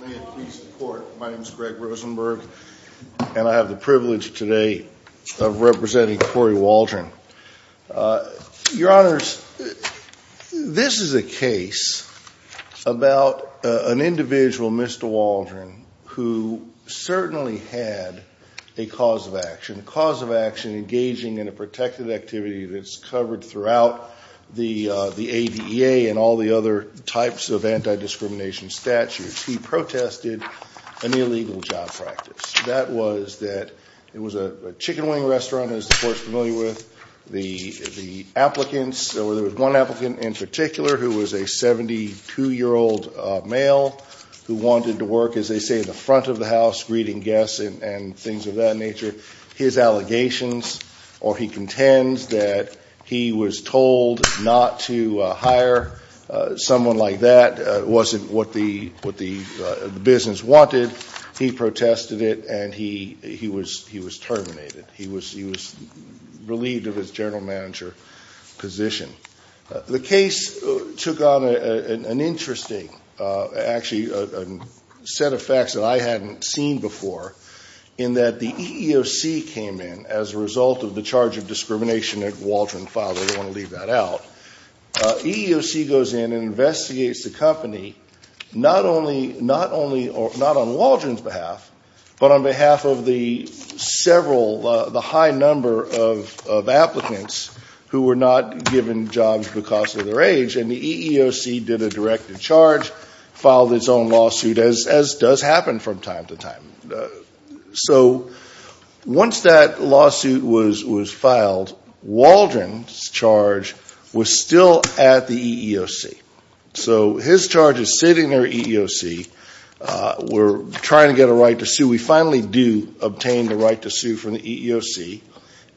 May it please the Court, my name is Greg Rosenberg, and I have the privilege today of representing Corey Waldron. Your Honors, this is a case about an individual, Mr. Waldron, who certainly had a cause of action, a cause of action engaging in a protected activity that's covered throughout the ADA and all the other types of anti-discrimination statutes. He protested an illegal job practice. That was that it was a chicken wing restaurant, as the Court is familiar with, the applicants or there was one applicant in particular who was a 72-year-old male who wanted to work, as they say, in the front of the house greeting guests and things of that nature. His allegations or he contends that he was told not to hire someone like that wasn't what the business wanted. He protested it, and he was terminated. He was relieved of his general manager position. The case took on an interesting, actually, set of facts that I hadn't seen before in that the EEOC came in as a result of the charge of discrimination that Waldron filed, I don't want to leave that out. EEOC goes in and investigates the company, not only on Waldron's behalf, but on behalf of the several, the high number of applicants who were not given jobs because of their age, and the EEOC did a directed charge, filed its own lawsuit, as does happen from time to time. So once that lawsuit was filed, Waldron's charge was still at the EEOC. So his charges sit in their EEOC, we're trying to get a right to sue, we finally do obtain the right to sue from the EEOC,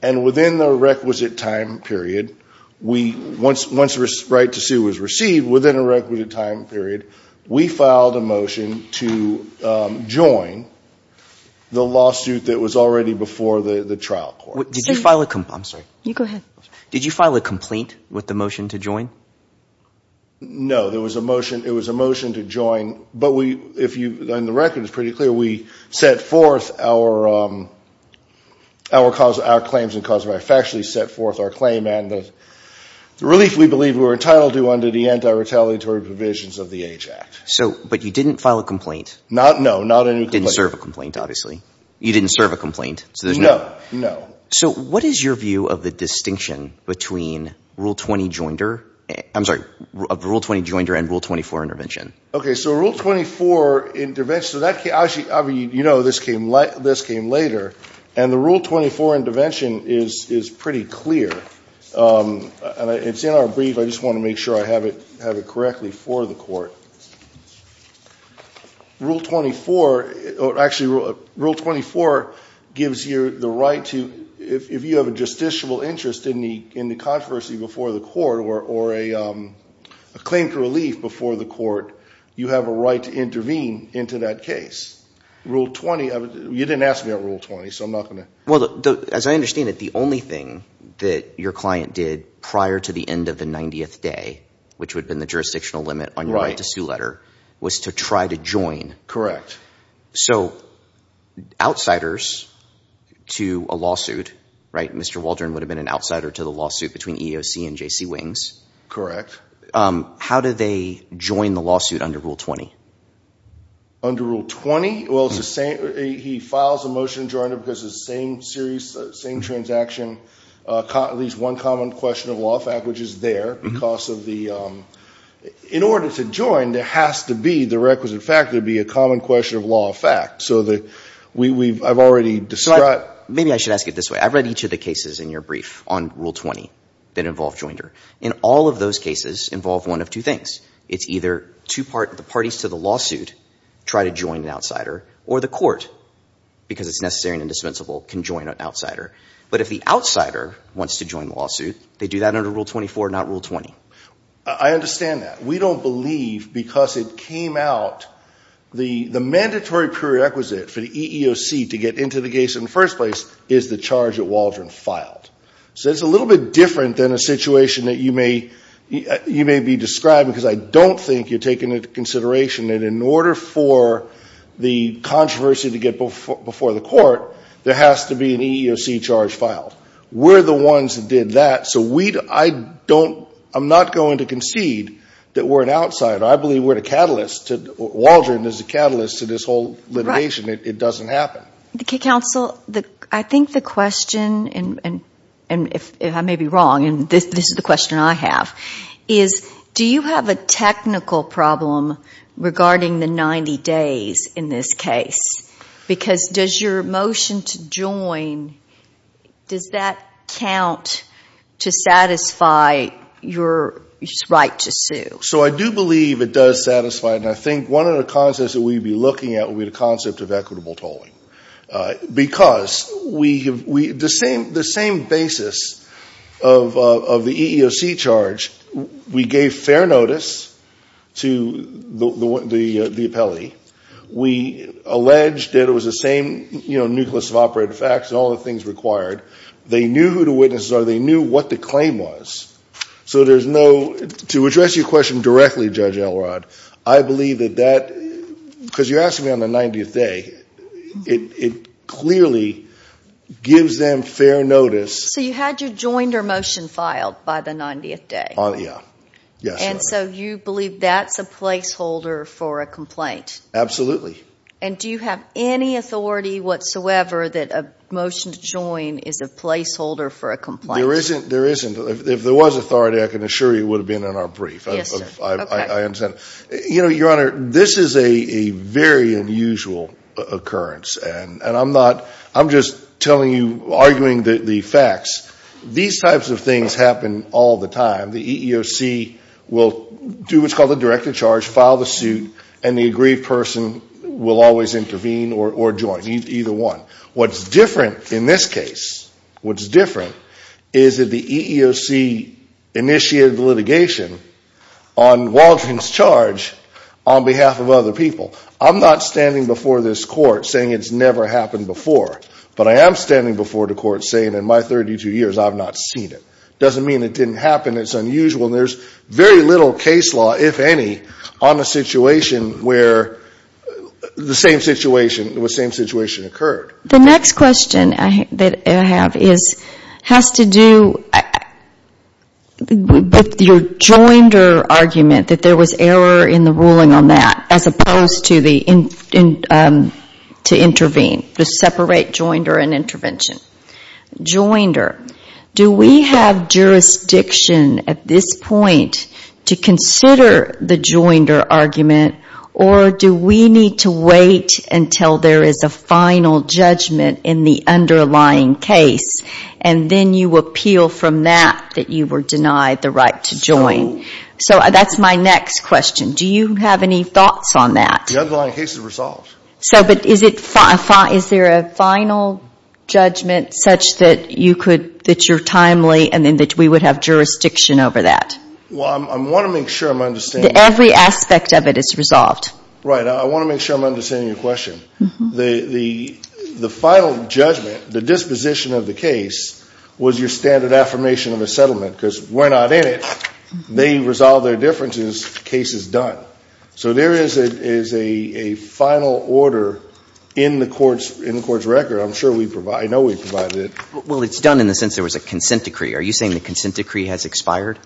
and within the requisite time period, once the right to sue was received, within a requisite time period, we filed a motion to join the lawsuit that was already before the trial court. Did you file a complaint with the motion to join? No, there was a motion, it was a motion to join, but we, and the record is pretty clear, we set forth our claims and cause of action, we set forth our claim, and the relief we were entitled to under the anti-retaliatory provisions of the Age Act. But you didn't file a complaint? Not, no, not any complaint. You didn't serve a complaint, obviously. You didn't serve a complaint? No, no. So what is your view of the distinction between Rule 20 Joinder, I'm sorry, of Rule 20 Joinder and Rule 24 Intervention? Okay, so Rule 24 Intervention, so that, I mean, you know, this came later, and the Rule 24, I just want to make sure I have it correctly for the court. Rule 24, actually, Rule 24 gives you the right to, if you have a justiciable interest in the controversy before the court, or a claim for relief before the court, you have a right to intervene into that case. Rule 20, you didn't ask me about Rule 20, so I'm not going to. Well, as I understand it, the only thing that your client did prior to the end of the 90th day, which would have been the jurisdictional limit on your right to sue letter, was to try to join. Correct. So, outsiders to a lawsuit, right, Mr. Waldron would have been an outsider to the lawsuit between EEOC and J.C. Wings. Correct. How did they join the lawsuit under Rule 20? Under Rule 20? Well, it's the same, he files a motion to join it because it's the same transaction, at least one common question of law fact, which is there, because of the, in order to join, there has to be, the requisite fact, there has to be a common question of law fact. So the, we've, I've already described. Maybe I should ask it this way. I've read each of the cases in your brief on Rule 20 that involve joinder. And all of those cases involve one of two things. It's either two part, the parties to the lawsuit try to join an outsider, or the court, because it's necessary and indispensable, can join an outsider. But if the outsider wants to join the lawsuit, they do that under Rule 24, not Rule 20. I understand that. We don't believe, because it came out, the mandatory prerequisite for the EEOC to get into the case in the first place is the charge that Waldron filed. So it's a little bit different than a situation that you may, you may be describing, because I don't think you're taking into consideration that in order for the controversy to get before the court, there has to be an EEOC charge filed. We're the ones that did that. So we, I don't, I'm not going to concede that we're an outsider. I believe we're the catalyst to, Waldron is the catalyst to this whole litigation. It doesn't happen. Okay, counsel, I think the question, and I may be wrong, and this is the question I have, is do you have a technical problem regarding the 90 days in this case? Because does your motion to join, does that count to satisfy your right to sue? So I do believe it does satisfy, and I think one of the concepts that we'd be looking at would be the concept of equitable tolling. Because we, the same basis of the EEOC charge, we gave fair notice to the appellee. We alleged that it was the same, you know, nucleus of operative facts and all the things required. They knew who the witnesses are. They knew what the claim was. So there's no, to address your question directly, Judge Elrod, I believe that that, because you're asking me on the 90th day, it clearly gives them fair notice. So you had your joined or motion filed by the 90th day? Yeah. Yes, ma'am. And so you believe that's a placeholder for a complaint? Absolutely. And do you have any authority whatsoever that a motion to join is a placeholder for a complaint? There isn't. There isn't. If there was authority, I can assure you it would have been in our brief. Yes, sir. I understand. You know, Your Honor, this is a very unusual occurrence, and I'm not, I'm just telling you, arguing the facts. These types of things happen all the time. The EEOC will do what's called a directed charge, file the suit, and the aggrieved person will always intervene or join, either one. What's different in this case, what's different is that the EEOC initiated the litigation on Waldron's charge on behalf of other people. I'm not standing before this court saying it's never happened before, but I am standing before the court saying in my 32 years I've not seen it. Doesn't mean it didn't happen. It's unusual, and there's very little case law, if any, on a situation where the same situation occurred. The next question that I have has to do with your joinder argument, that there was error in the ruling on that, as opposed to intervene, to separate joinder and intervention. Joinder, do we have jurisdiction at this point to consider the joinder argument, or do we need to wait until there is a final judgment in the underlying case, and then you appeal from that, that you were denied the right to join? So that's my next question. Do you have any thoughts on that? The underlying case is resolved. So, but is it, is there a final judgment such that you could, that you're timely, and then that we would have jurisdiction over that? Well, I want to make sure I'm understanding. Every aspect of it is resolved. Right. I want to make sure I'm understanding your question. The final judgment, the disposition of the case, was your standard affirmation of a settlement, because we're not in it. They resolve their differences, case is done. So there is a final order in the court's record. I'm sure we provide, I know we provided it. Well, it's done in the sense there was a consent decree. Are you saying the consent decree has expired?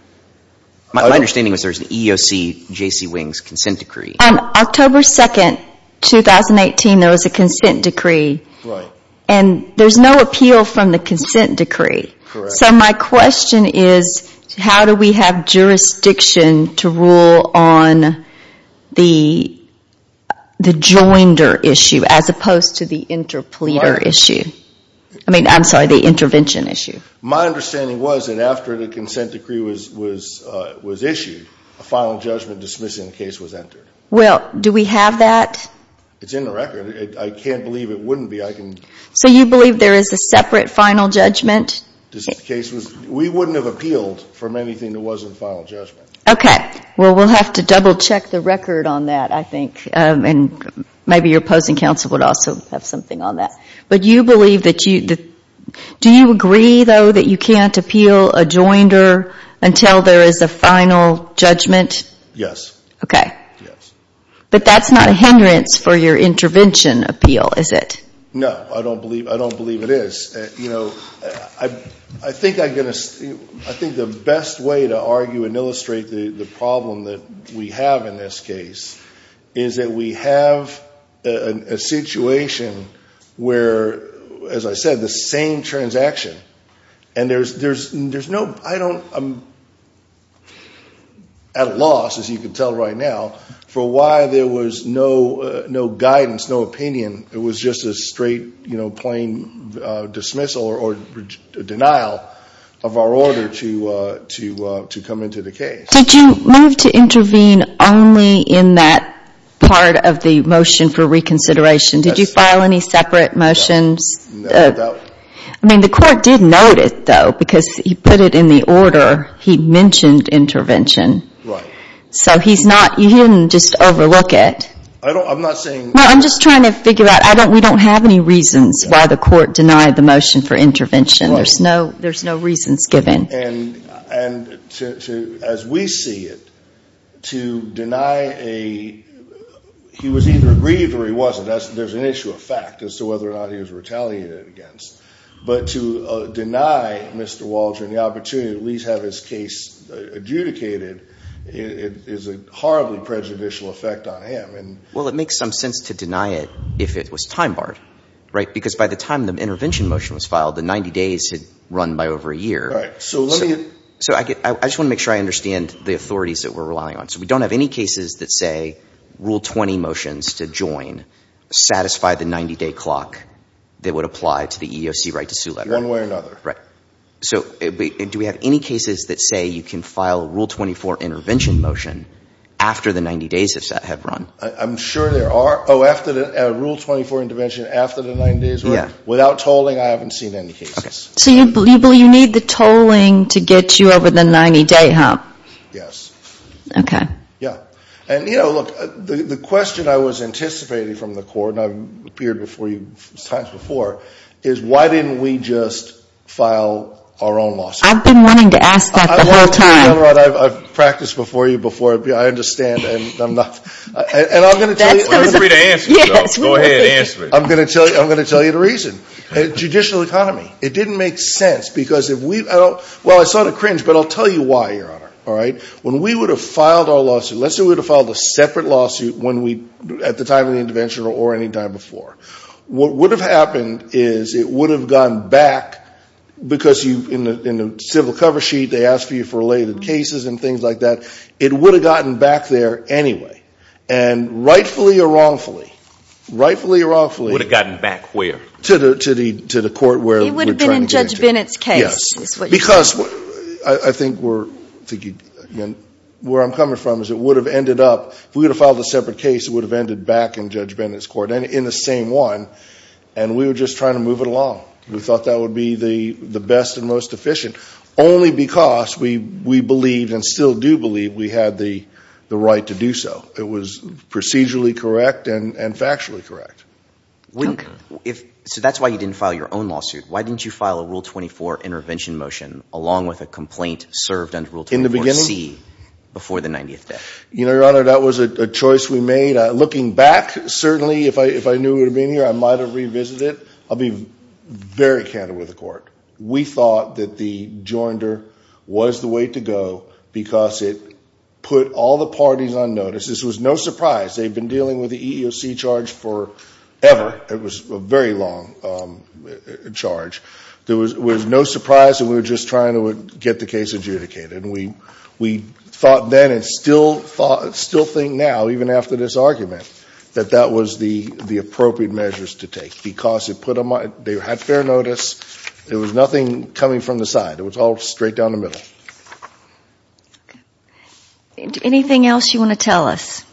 My understanding was there was an EOC JC Wing's consent decree. On October 2nd, 2018, there was a consent decree. Right. And there's no appeal from the consent decree. Correct. So my question is, how do we have jurisdiction to rule on the joinder issue, as opposed to the interpleader issue? I mean, I'm sorry, the intervention issue. My understanding was that after the consent decree was issued, a final judgment dismissing the case was entered. Well, do we have that? It's in the record. I can't believe it wouldn't be. I can. So you believe there is a separate final judgment? The case was, we wouldn't have appealed from anything that wasn't a final judgment. Okay. Well, we'll have to double check the record on that, I think. And maybe your opposing counsel would also have something on that. But you believe that you, do you agree, though, that you can't appeal a joinder until there is a final judgment? Yes. Okay. Yes. But that's not a hindrance for your intervention appeal, is it? No, I don't believe it is. You know, I think the best way to argue and illustrate the problem that we have in this case, is that we have a situation where, as I said, the same transaction. And there's no, I don't, I'm at a loss, as you can tell right now, for why there was no guidance, no opinion. It was just a straight, you know, plain dismissal or denial of our order to come into the case. Did you move to intervene only in that part of the motion for reconsideration? Did you file any separate motions? No, no doubt. I mean, the court did note it, though, because he put it in the order. He mentioned intervention. Right. So he's not, he didn't just overlook it. I don't, I'm not saying. No, I'm just trying to figure out. I don't, we don't have any reasons why the court denied the motion for intervention. There's no, there's no reasons given. And to, as we see it, to deny a, he was either aggrieved or he wasn't. That's, there's an issue of fact as to whether or not he was retaliated against. But to deny Mr. Waldron the opportunity to at least have his case adjudicated, is a horribly prejudicial effect on him. Well, it makes some sense to deny it if it was time barred, right? Because by the time the intervention motion was filed, the 90 days had run by over a year. Right. So let me. So I just want to make sure I understand the authorities that we're relying on. So we don't have any cases that say rule 20 motions to join, satisfy the 90 day clock that would apply to the EEOC right to sue letter. One way or another. Right. So do we have any cases that say you can file rule 24 intervention motion after the 90 days have run? I'm sure there are. Oh, after the rule 24 intervention, after the 90 days? Yeah. Without tolling, I haven't seen any cases. Okay. So you believe you need the tolling to get you over the 90 day hump? Yes. Okay. Yeah. And you know, look, the question I was anticipating from the court, and I've appeared before you times before, is why didn't we just file our own lawsuit? I've been wanting to ask that the whole time. I've practiced before you before, I understand, and I'm not, and I'm going to tell you. We're free to answer, so go ahead, answer it. I'm going to tell you the reason. Judicial economy. It didn't make sense, because if we, well, I saw the cringe, but I'll tell you why, Your Honor. All right? When we would have filed our lawsuit, let's say we would have filed a separate lawsuit when we, at the time of the intervention or any time before. What would have happened is it would have gone back, because you, in the civil cover sheet, they ask you for related cases and things like that. It would have gotten back there anyway. And rightfully or wrongfully, rightfully or wrongfully. Would have gotten back where? To the court where we're trying to get into. It would have been in Judge Bennett's case. Yes, because I think we're, where I'm coming from is it would have ended up, if we would have filed a separate case, it would have ended back in Judge Bennett's court, in the same one, and we were just trying to move it along. We thought that would be the best and most efficient, only because we believed and still do believe we had the right to do so. It was procedurally correct and factually correct. So that's why you didn't file your own lawsuit. Why didn't you file a Rule 24 intervention motion along with a complaint served under Rule 24C before the 90th day? Your Honor, that was a choice we made. Looking back, certainly, if I knew it would have been here, I might have revisited it. I'll be very candid with the court. We thought that the joinder was the way to go because it put all the parties on notice. This was no surprise. They've been dealing with the EEOC charge forever. It was a very long charge. There was no surprise and we were just trying to get the case adjudicated. We thought then and still think now, even after this argument, that that was the appropriate measures to take because it put them on, they had fair notice. There was nothing coming from the side. It was all straight down the middle. Okay. Anything else you want to tell us?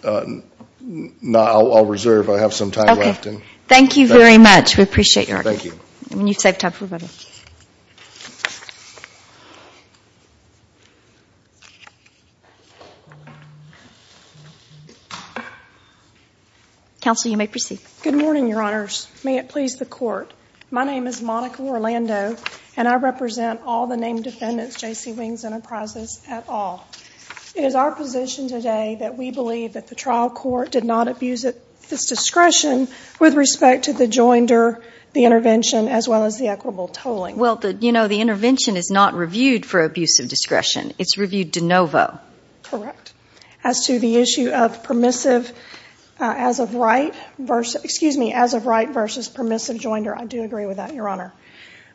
No, I'll reserve. I have some time left. Thank you very much. We appreciate your argument. You've saved time for everybody. Counsel, you may proceed. Good morning, Your Honors. May it please the court. My name is Monica Orlando and I represent all the named defendants, J.C. Wings Enterprises, at all. It is our position today that we believe that the trial court did not abuse its discretion with respect to the joinder, the intervention, as well as the equitable tolling. Well, you know, the intervention is not reviewed for abuse of discretion. It's reviewed de novo. Correct. As to the issue of permissive as of right versus, excuse me, as of right versus permissive joinder, I do agree with that, Your Honor.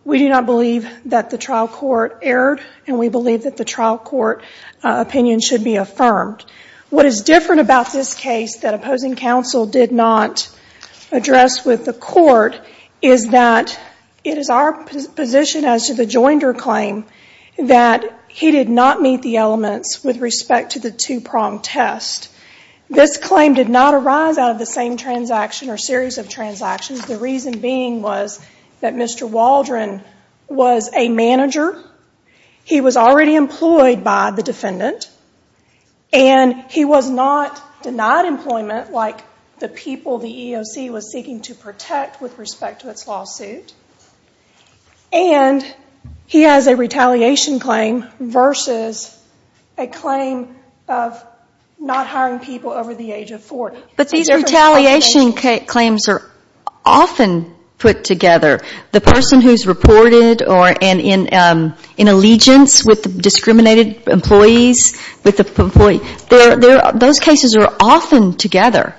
We do not believe that the trial court erred and we believe that the trial court opinion should be affirmed. What is different about this case that opposing counsel did not address with the court is that it is our position as to the joinder claim that he did not meet the elements with respect to the two-prong test. This claim did not arise out of the same transaction or series of transactions. The reason being was that Mr. Waldron was a manager. He was already employed by the defendant and he was not denied employment like the people the EEOC was seeking to protect with respect to its lawsuit. And he has a retaliation claim versus a claim of not hiring people over the age of 40. But these retaliation claims are often put together. The person who's reported or in allegiance with discriminated employees, those cases are often together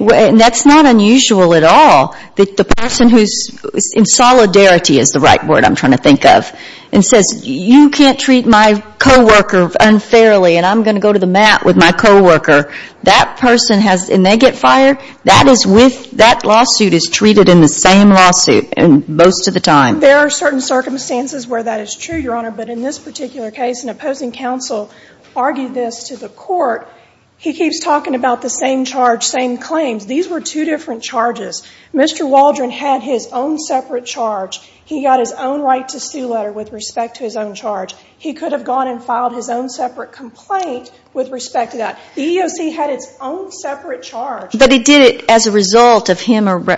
and that's not unusual at all. The person who's in solidarity is the right word I'm trying to think of and says, you can't treat my co-worker unfairly and I'm going to go to the mat with my co-worker. That person has, and they get fired? That is with, that lawsuit is treated in the same lawsuit most of the time. There are certain circumstances where that is true, Your Honor, but in this particular case, an opposing counsel argued this to the court. He keeps talking about the same charge, same claims. These were two different charges. Mr. Waldron had his own separate charge. He got his own right to sue letter with respect to his own charge. He could have gone and filed his own separate complaint with respect to that. The EEOC had its own separate charge. But he did it as a result of him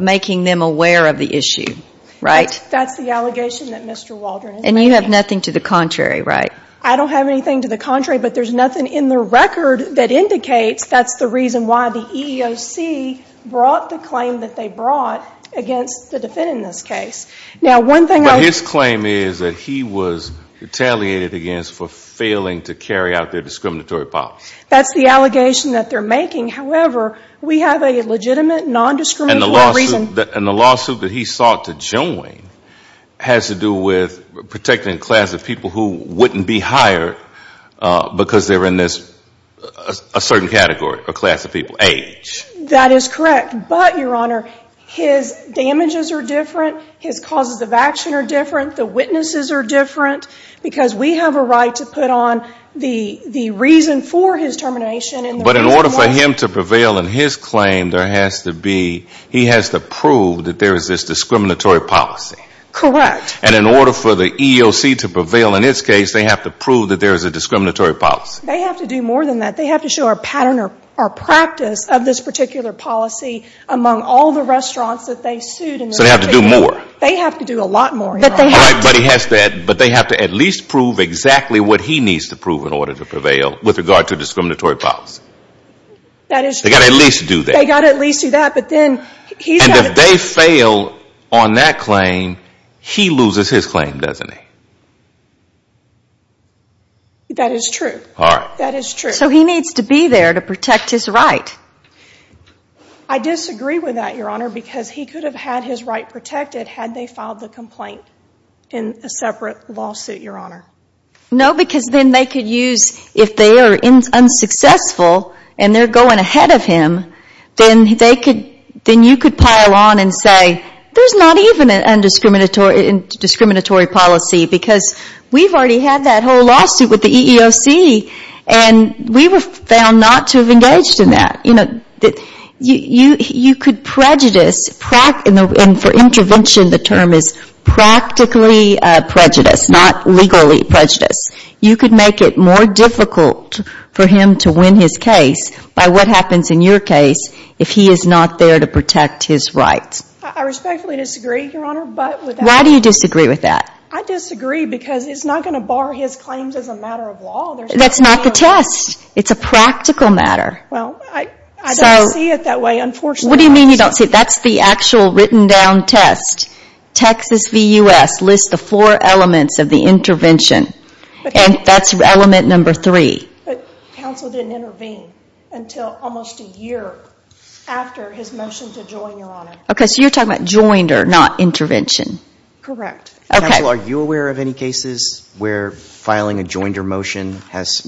making them aware of the issue, right? That's the allegation that Mr. Waldron is making. And you have nothing to the contrary, right? I don't have anything to the contrary, but there's nothing in the record that indicates that's the reason why the EEOC brought the claim that they brought against the defendant in this case. But his claim is that he was retaliated against for failing to carry out their discriminatory policy. That's the allegation that they're making. However, we have a legitimate, nondiscriminatory reason. And the lawsuit that he sought to join has to do with protecting a class of people who wouldn't be hired because they're in this certain category, a class of people, age. That is correct. But, Your Honor, his damages are different. His causes of action are different. The witnesses are different. Because we have a right to put on the reason for his termination and the reason why. But in order for him to prevail in his claim, there has to be, he has to prove that there is this discriminatory policy. Correct. And in order for the EEOC to prevail in its case, they have to prove that there is a discriminatory policy. They have to do more than that. They have to show a pattern or practice of this particular policy among all the restaurants that they sued. So they have to do more. They have to do a lot more, Your Honor. All right, but he has to, but they have to at least prove exactly what he needs to prove in order to prevail with regard to discriminatory policy. That is true. They've got to at least do that. They've got to at least do that. And if they fail on that claim, he loses his claim, doesn't he? That is true. All right. That is true. So he needs to be there to protect his right. I disagree with that, Your Honor, because he could have had his right protected had they filed the complaint in a separate lawsuit, Your Honor. No, because then they could use, if they are unsuccessful and they're going ahead of him, then you could pile on and say, there's not even a discriminatory policy because we've already had that whole lawsuit with the EEOC, and we were found not to have engaged in that. You could prejudice, and for intervention the term is practically prejudice, not legally prejudice. You could make it more difficult for him to win his case by what happens in your case if he is not there to protect his right. I respectfully disagree, Your Honor. Why do you disagree with that? I disagree because it's not going to bar his claims as a matter of law. That's not the test. It's a practical matter. Well, I don't see it that way, unfortunately. What do you mean you don't see it? That's the actual written down test. Texas v. U.S. lists the four elements of the intervention, and that's element number three. But counsel didn't intervene until almost a year after his motion to join, Your Honor. Okay, so you're talking about joinder, not intervention. Correct. Counsel, are you aware of any cases where filing a joinder motion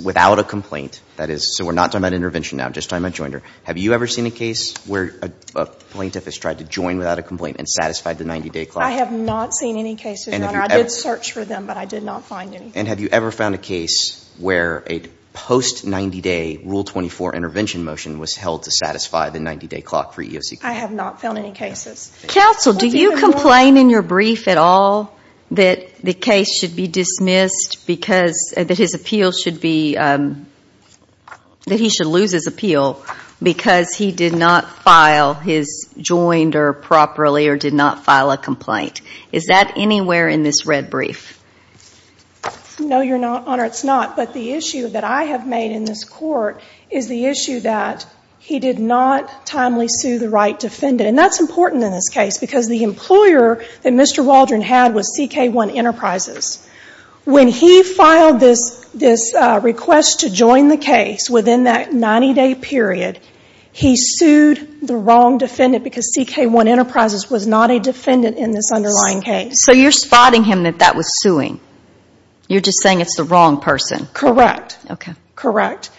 without a complaint, that is, so we're not talking about intervention now, just talking about joinder. Have you ever seen a case where a plaintiff has tried to join without a complaint and satisfied the 90-day clock? I have not seen any cases, Your Honor. I did search for them, but I did not find any. And have you ever found a case where a post-90-day Rule 24 intervention motion was held to satisfy the 90-day clock for EEOC claim? I have not found any cases. Counsel, do you complain in your brief at all that the case should be dismissed because, that his appeal should be, that he should lose his appeal because he did not file his joinder properly or did not file a complaint? Is that anywhere in this red brief? No, Your Honor, it's not. But the issue that I have made in this court is the issue that he did not timely sue the right defendant. And that's important in this case because the employer that Mr. Waldron had was CK1 Enterprises. When he filed this request to join the case within that 90-day period, he sued the wrong defendant because CK1 Enterprises was not a defendant in this underlying case. So you're spotting him that that was suing. You're just saying it's the wrong person. Correct. Okay. Correct.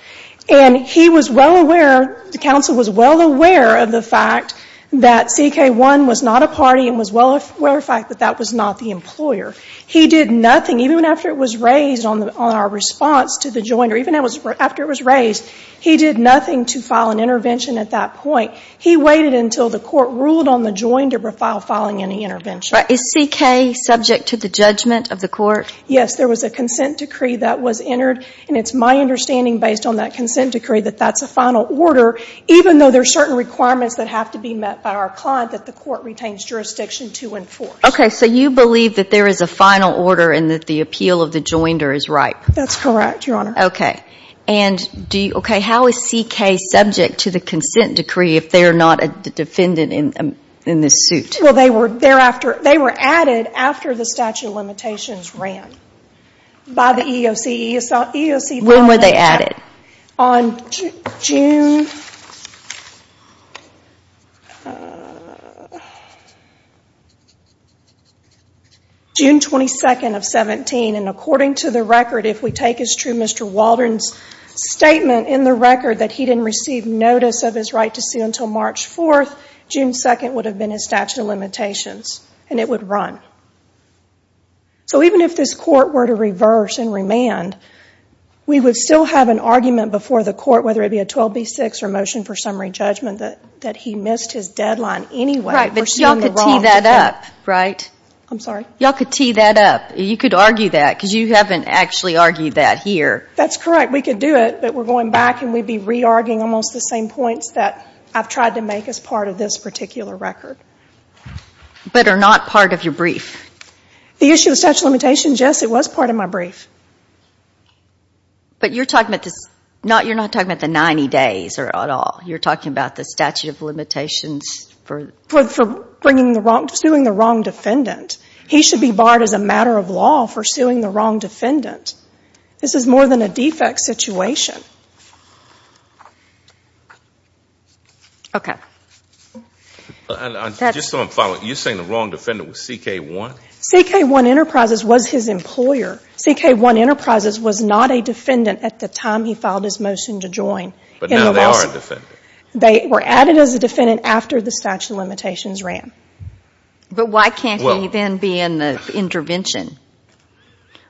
And he was well aware, the counsel was well aware of the fact that CK1 was not a party and was well aware of the fact that that was not the employer. He did nothing, even after it was raised on our response to the joinder, even after it was raised, he did nothing to file an intervention at that point. He waited until the court ruled on the joinder before filing any intervention. Is CK subject to the judgment of the court? Yes, there was a consent decree that was entered. And it's my understanding, based on that consent decree, that that's a final order, even though there are certain requirements that have to be met by our client that the court retains jurisdiction to enforce. Okay. So you believe that there is a final order and that the appeal of the joinder is ripe? That's correct, Your Honor. Okay. And how is CK subject to the consent decree if they're not a defendant in this suit? Well, they were added after the statute of limitations ran by the EEOC. When were they added? On June 22nd of 17, and according to the record, if we take as true Mr. Waldron's statement in the record that he didn't receive notice of his right to sue until March 4th, June 2nd would have been his statute of limitations, and it would run. So even if this court were to reverse and remand, we would still have an argument before the court, whether it be a 12B6 or motion for summary judgment, that he missed his deadline anyway. Right, but you all could tee that up, right? I'm sorry? You all could tee that up. You could argue that, because you haven't actually argued that here. That's correct. We could do it, but we're going back and we'd be re-arguing almost the same points that I've tried to make as part of this particular record. But are not part of your brief. The issue of statute of limitations, yes, it was part of my brief. But you're not talking about the 90 days at all. You're talking about the statute of limitations for suing the wrong defendant. He should be barred as a matter of law for suing the wrong defendant. This is more than a defect situation. Okay. Just so I'm following, you're saying the wrong defendant was CK1? CK1 Enterprises was his employer. CK1 Enterprises was not a defendant at the time he filed his motion to join. But now they are a defendant. They were added as a defendant after the statute of limitations ran. But why can't he then be in the intervention?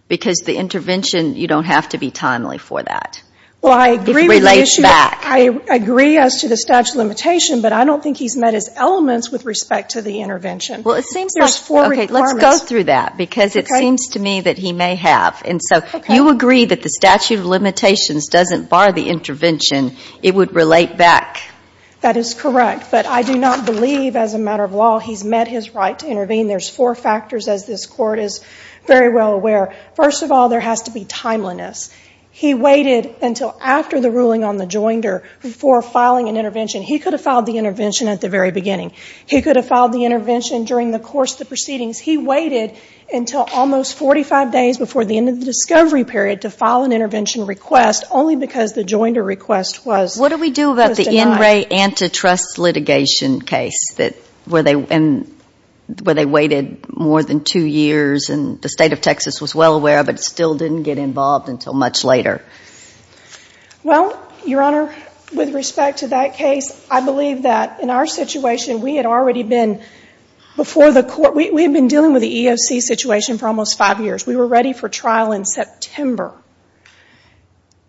Because the intervention, you don't have to be timely for that. Well, I agree with the issue. If it relates back. I agree as to the statute of limitation, but I don't think he's met his elements with respect to the intervention. Well, it seems like four requirements. Okay, let's go through that because it seems to me that he may have. And so you agree that the statute of limitations doesn't bar the intervention. It would relate back. That is correct. But I do not believe, as a matter of law, he's met his right to intervene. There's four factors, as this Court is very well aware. First of all, there has to be timeliness. He waited until after the ruling on the joinder before filing an intervention. He could have filed the intervention at the very beginning. He could have filed the intervention during the course of the proceedings. He waited until almost 45 days before the end of the discovery period to file an intervention request, only because the joinder request was denied. What do we do about the NRA antitrust litigation case where they waited more than two years and the State of Texas was well aware of it, still didn't get involved until much later? Well, Your Honor, with respect to that case, I believe that in our situation we had already been before the Court. We had been dealing with the EEOC situation for almost five years. We were ready for trial in September.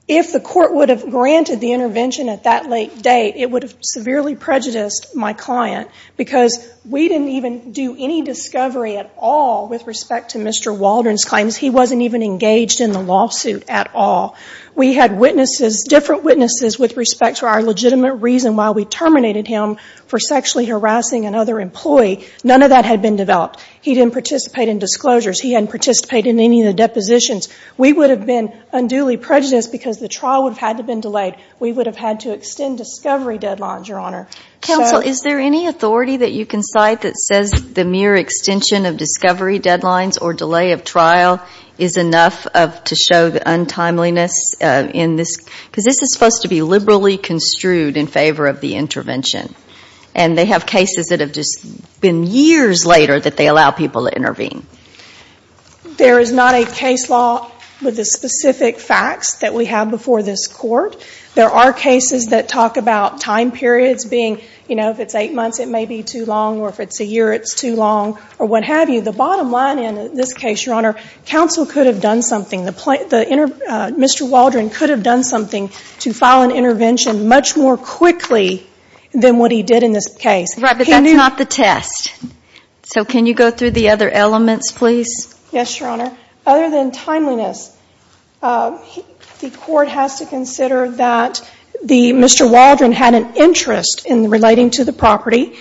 If the Court would have granted the intervention at that late date, it would have severely prejudiced my client because we didn't even do any discovery at all with respect to Mr. Waldron's claims. He wasn't even engaged in the lawsuit at all. We had witnesses, different witnesses, with respect to our legitimate reason why we terminated him for sexually harassing another employee. None of that had been developed. He didn't participate in disclosures. He hadn't participated in any of the depositions. We would have been unduly prejudiced because the trial would have had to have been delayed. We would have had to extend discovery deadlines, Your Honor. Counsel, is there any authority that you can cite that says the mere extension of discovery deadlines or delay of trial is enough to show the untimeliness in this? Because this is supposed to be liberally construed in favor of the intervention, and they have cases that have just been years later that they allow people to intervene. There is not a case law with the specific facts that we have before this Court. There are cases that talk about time periods being, you know, if it's eight months, it may be too long, or if it's a year, it's too long, or what have you. The bottom line in this case, Your Honor, counsel could have done something. Mr. Waldron could have done something to file an intervention much more quickly than what he did in this case. Right, but that's not the test. So can you go through the other elements, please? Yes, Your Honor. Other than timeliness, the Court has to consider that Mr. Waldron had an interest in relating to the property,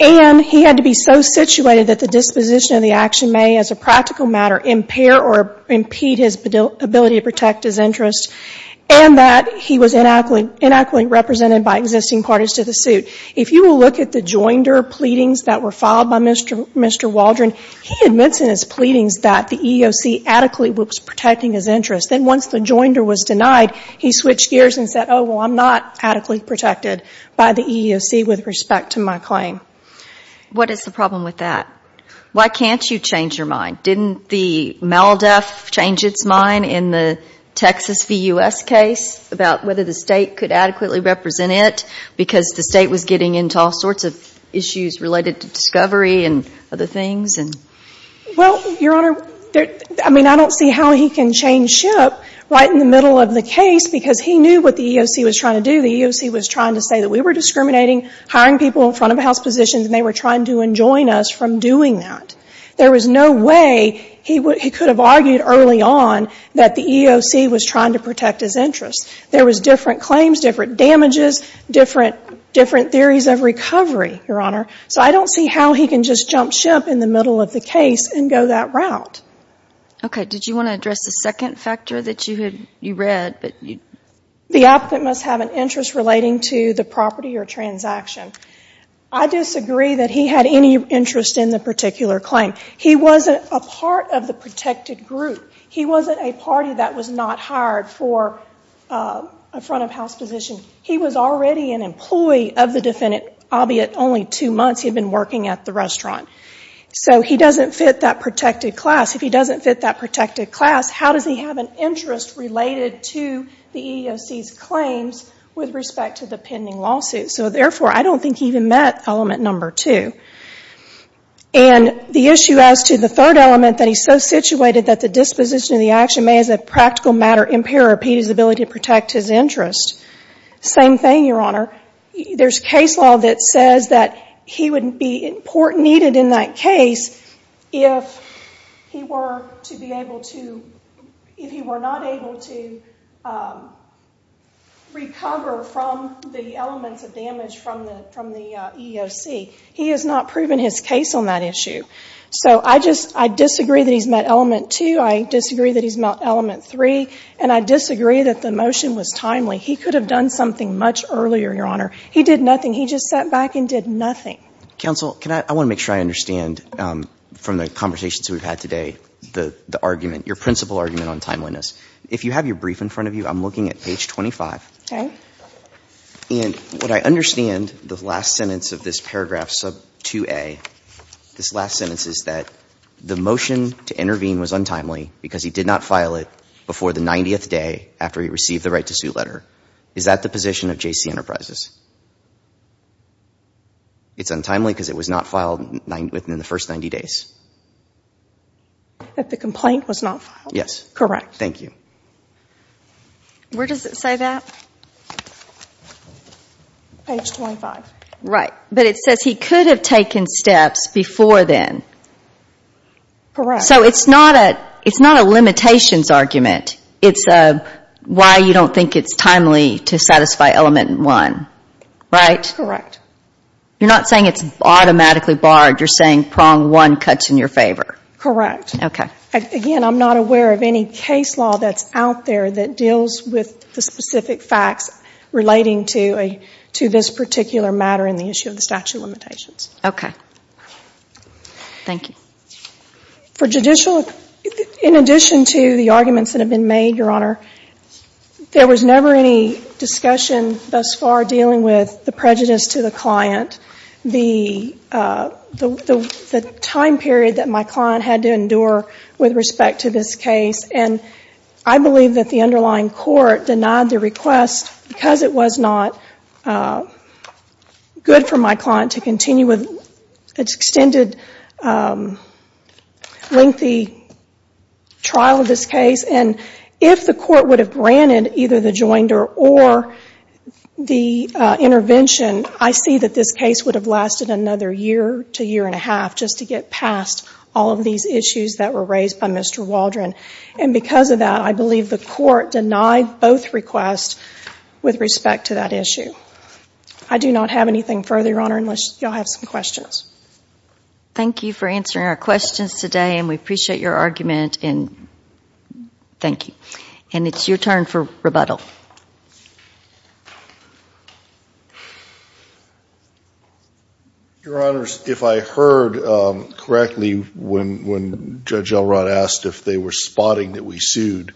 and he had to be so situated that the disposition of the action may, as a practical matter, impair or impede his ability to protect his interest, and that he was inadequately represented by existing parties to the suit. If you will look at the joinder pleadings that were filed by Mr. Waldron, he admits in his pleadings that the EEOC adequately was protecting his interest. Then once the joinder was denied, he switched gears and said, oh, well, I'm not adequately protected by the EEOC with respect to my claim. What is the problem with that? Why can't you change your mind? Didn't the MALDEF change its mind in the Texas v. U.S. case about whether the State could adequately represent it because the State was getting into all sorts of issues related to discovery and other things? Well, Your Honor, I mean, I don't see how he can change ship right in the middle of the case because he knew what the EEOC was trying to do. The EEOC was trying to say that we were discriminating, hiring people in front-of-the-house positions, and they were trying to enjoin us from doing that. There was no way he could have argued early on that the EEOC was trying to protect his interest. There was different claims, different damages, different theories of recovery, Your Honor. So I don't see how he can just jump ship in the middle of the case and go that route. Okay. Did you want to address the second factor that you read? The applicant must have an interest relating to the property or transaction. I disagree that he had any interest in the particular claim. He wasn't a part of the protected group. He wasn't a party that was not hired for a front-of-house position. He was already an employee of the defendant, albeit only two months. He had been working at the restaurant. So he doesn't fit that protected class. If he doesn't fit that protected class, how does he have an interest related to the EEOC's claims with respect to the pending lawsuit? So, therefore, I don't think he even met element number two. And the issue as to the third element that he's so situated that the disposition of the action may as a practical matter impair or impede his ability to protect his interest. Same thing, Your Honor. There's case law that says that he would be needed in that case if he were to be able to, if he were not able to recover from the elements of damage from the EEOC. He has not proven his case on that issue. So I just, I disagree that he's met element two. I disagree that he's met element three. And I disagree that the motion was timely. He could have done something much earlier, Your Honor. He did nothing. He just sat back and did nothing. Counsel, can I, I want to make sure I understand from the conversations we've had today, the argument, your principal argument on timeliness. If you have your brief in front of you, I'm looking at page 25. Okay. And what I understand, the last sentence of this paragraph sub 2A, this last sentence is that the motion to intervene was untimely because he did not file it before the 90th day after he received the right to sue letter. Is that the position of JC Enterprises? It's untimely because it was not filed within the first 90 days? That the complaint was not filed? Yes. Correct. Thank you. Where does it say that? Page 25. Right. But it says he could have taken steps before then. Correct. So it's not a limitations argument. It's why you don't think it's timely to satisfy element one. Right? Correct. You're not saying it's automatically barred. You're saying prong one cuts in your favor. Correct. Okay. Again, I'm not aware of any case law that's out there that deals with the specific facts relating to this particular matter in the issue of the statute of limitations. Okay. Thank you. For judicial, in addition to the arguments that have been made, Your Honor, there was never any discussion thus far dealing with the prejudice to the client. The time period that my client had to endure with respect to this case, and I believe that the underlying court denied the request because it was not good for my client to continue with its extended lengthy trial of this case. And if the court would have granted either the joinder or the intervention, I see that this case would have lasted another year to year and a half just to get past all of these issues that were raised by Mr. Waldron. And because of that, I believe the court denied both requests with respect to that issue. I do not have anything further, Your Honor, unless you all have some questions. Thank you for answering our questions today, and we appreciate your argument. Thank you. And it's your turn for rebuttal. Your Honors, if I heard correctly when Judge Elrod asked if they were spotting that we sued,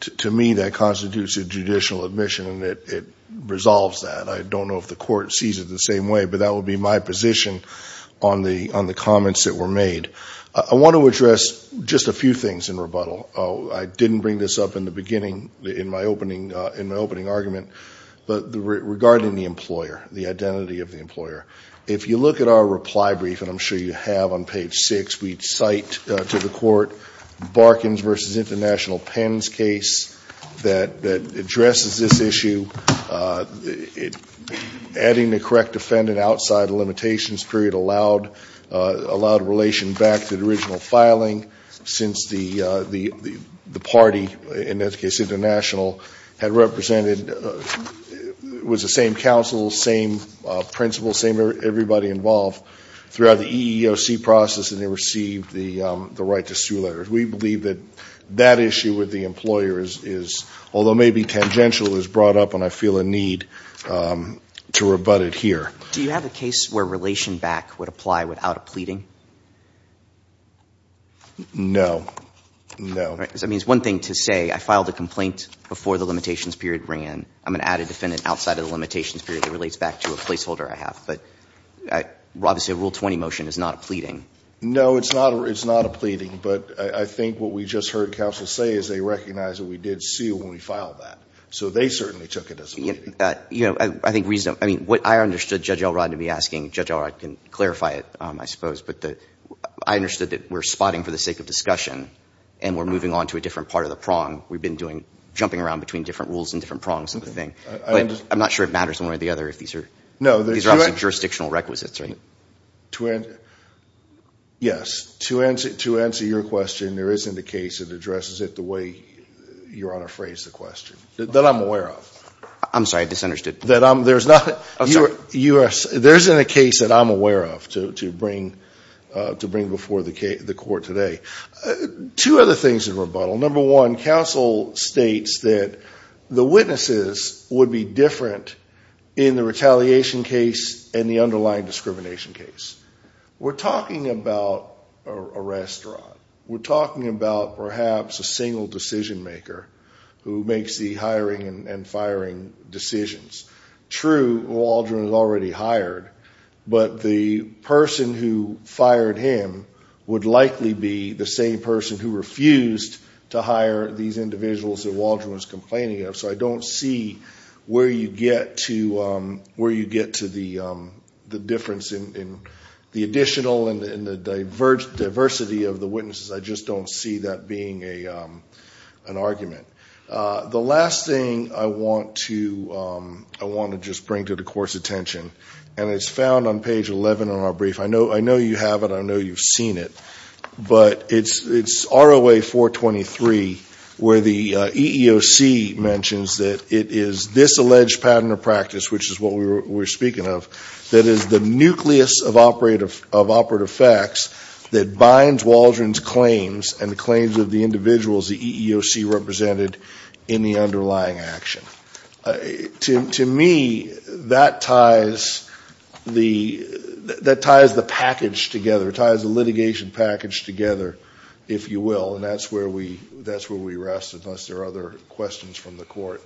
to me that constitutes a judicial admission, and it resolves that. I don't know if the court sees it the same way, but that would be my position on the comments that were made. I want to address just a few things in rebuttal. I didn't bring this up in the beginning in my opening argument, but regarding the employer, the identity of the employer. If you look at our reply brief, and I'm sure you have on page 6, we cite to the court Barkins v. International Pens case that addresses this issue. Adding the correct defendant outside the limitations period allowed a relation back to the original filing. Since the party, in this case International, had represented, was the same counsel, same principal, same everybody involved throughout the EEOC process, and they received the right to sue letters. We believe that that issue with the employer is, although maybe tangential, is brought up, and I feel a need to rebut it here. Do you have a case where relation back would apply without a pleading? No. No. That means one thing to say, I filed a complaint before the limitations period ran. I'm going to add a defendant outside of the limitations period that relates back to a placeholder I have. But obviously a Rule 20 motion is not a pleading. No, it's not a pleading, but I think what we just heard counsel say is they recognize that we did sue when we filed that. So they certainly took it as a pleading. I think what I understood Judge Elrod to be asking, Judge Elrod can clarify it, I suppose, but I understood that we're spotting for the sake of discussion and we're moving on to a different part of the prong. We've been jumping around between different rules and different prongs of the thing. But I'm not sure it matters one way or the other if these are obviously jurisdictional requisites, right? Yes. To answer your question, there isn't a case that addresses it the way Your Honor phrased the question, that I'm aware of. I'm sorry, I misunderstood. There isn't a case that I'm aware of to bring before the court today. Two other things in rebuttal. Number one, counsel states that the witnesses would be different in the retaliation case and the underlying discrimination case. We're talking about a restaurant. We're talking about perhaps a single decision maker who makes the hiring and firing decisions. True, Waldron is already hired, but the person who fired him would likely be the same person who refused to hire these individuals that Waldron was complaining of. So I don't see where you get to the difference in the additional and the diversity of the witnesses. I just don't see that being an argument. The last thing I want to just bring to the Court's attention, and it's found on page 11 on our brief. I know you have it. I know you've seen it. But it's ROA 423 where the EEOC mentions that it is this alleged pattern of practice, which is what we're speaking of, that is the nucleus of operative facts that binds Waldron's claims and the claims of the individuals the EEOC represented in the underlying action. To me, that ties the package together, ties the litigation package together, if you will. And that's where we rest, unless there are other questions from the Court.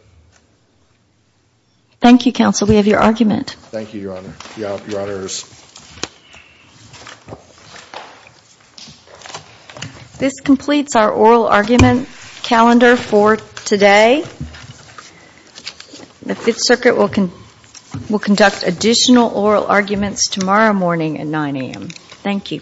Thank you, Counsel. We have your argument. Thank you, Your Honor. Your Honors. This completes our oral argument calendar for today. The Fifth Circuit will conduct additional oral arguments tomorrow morning at 9 a.m. Thank you.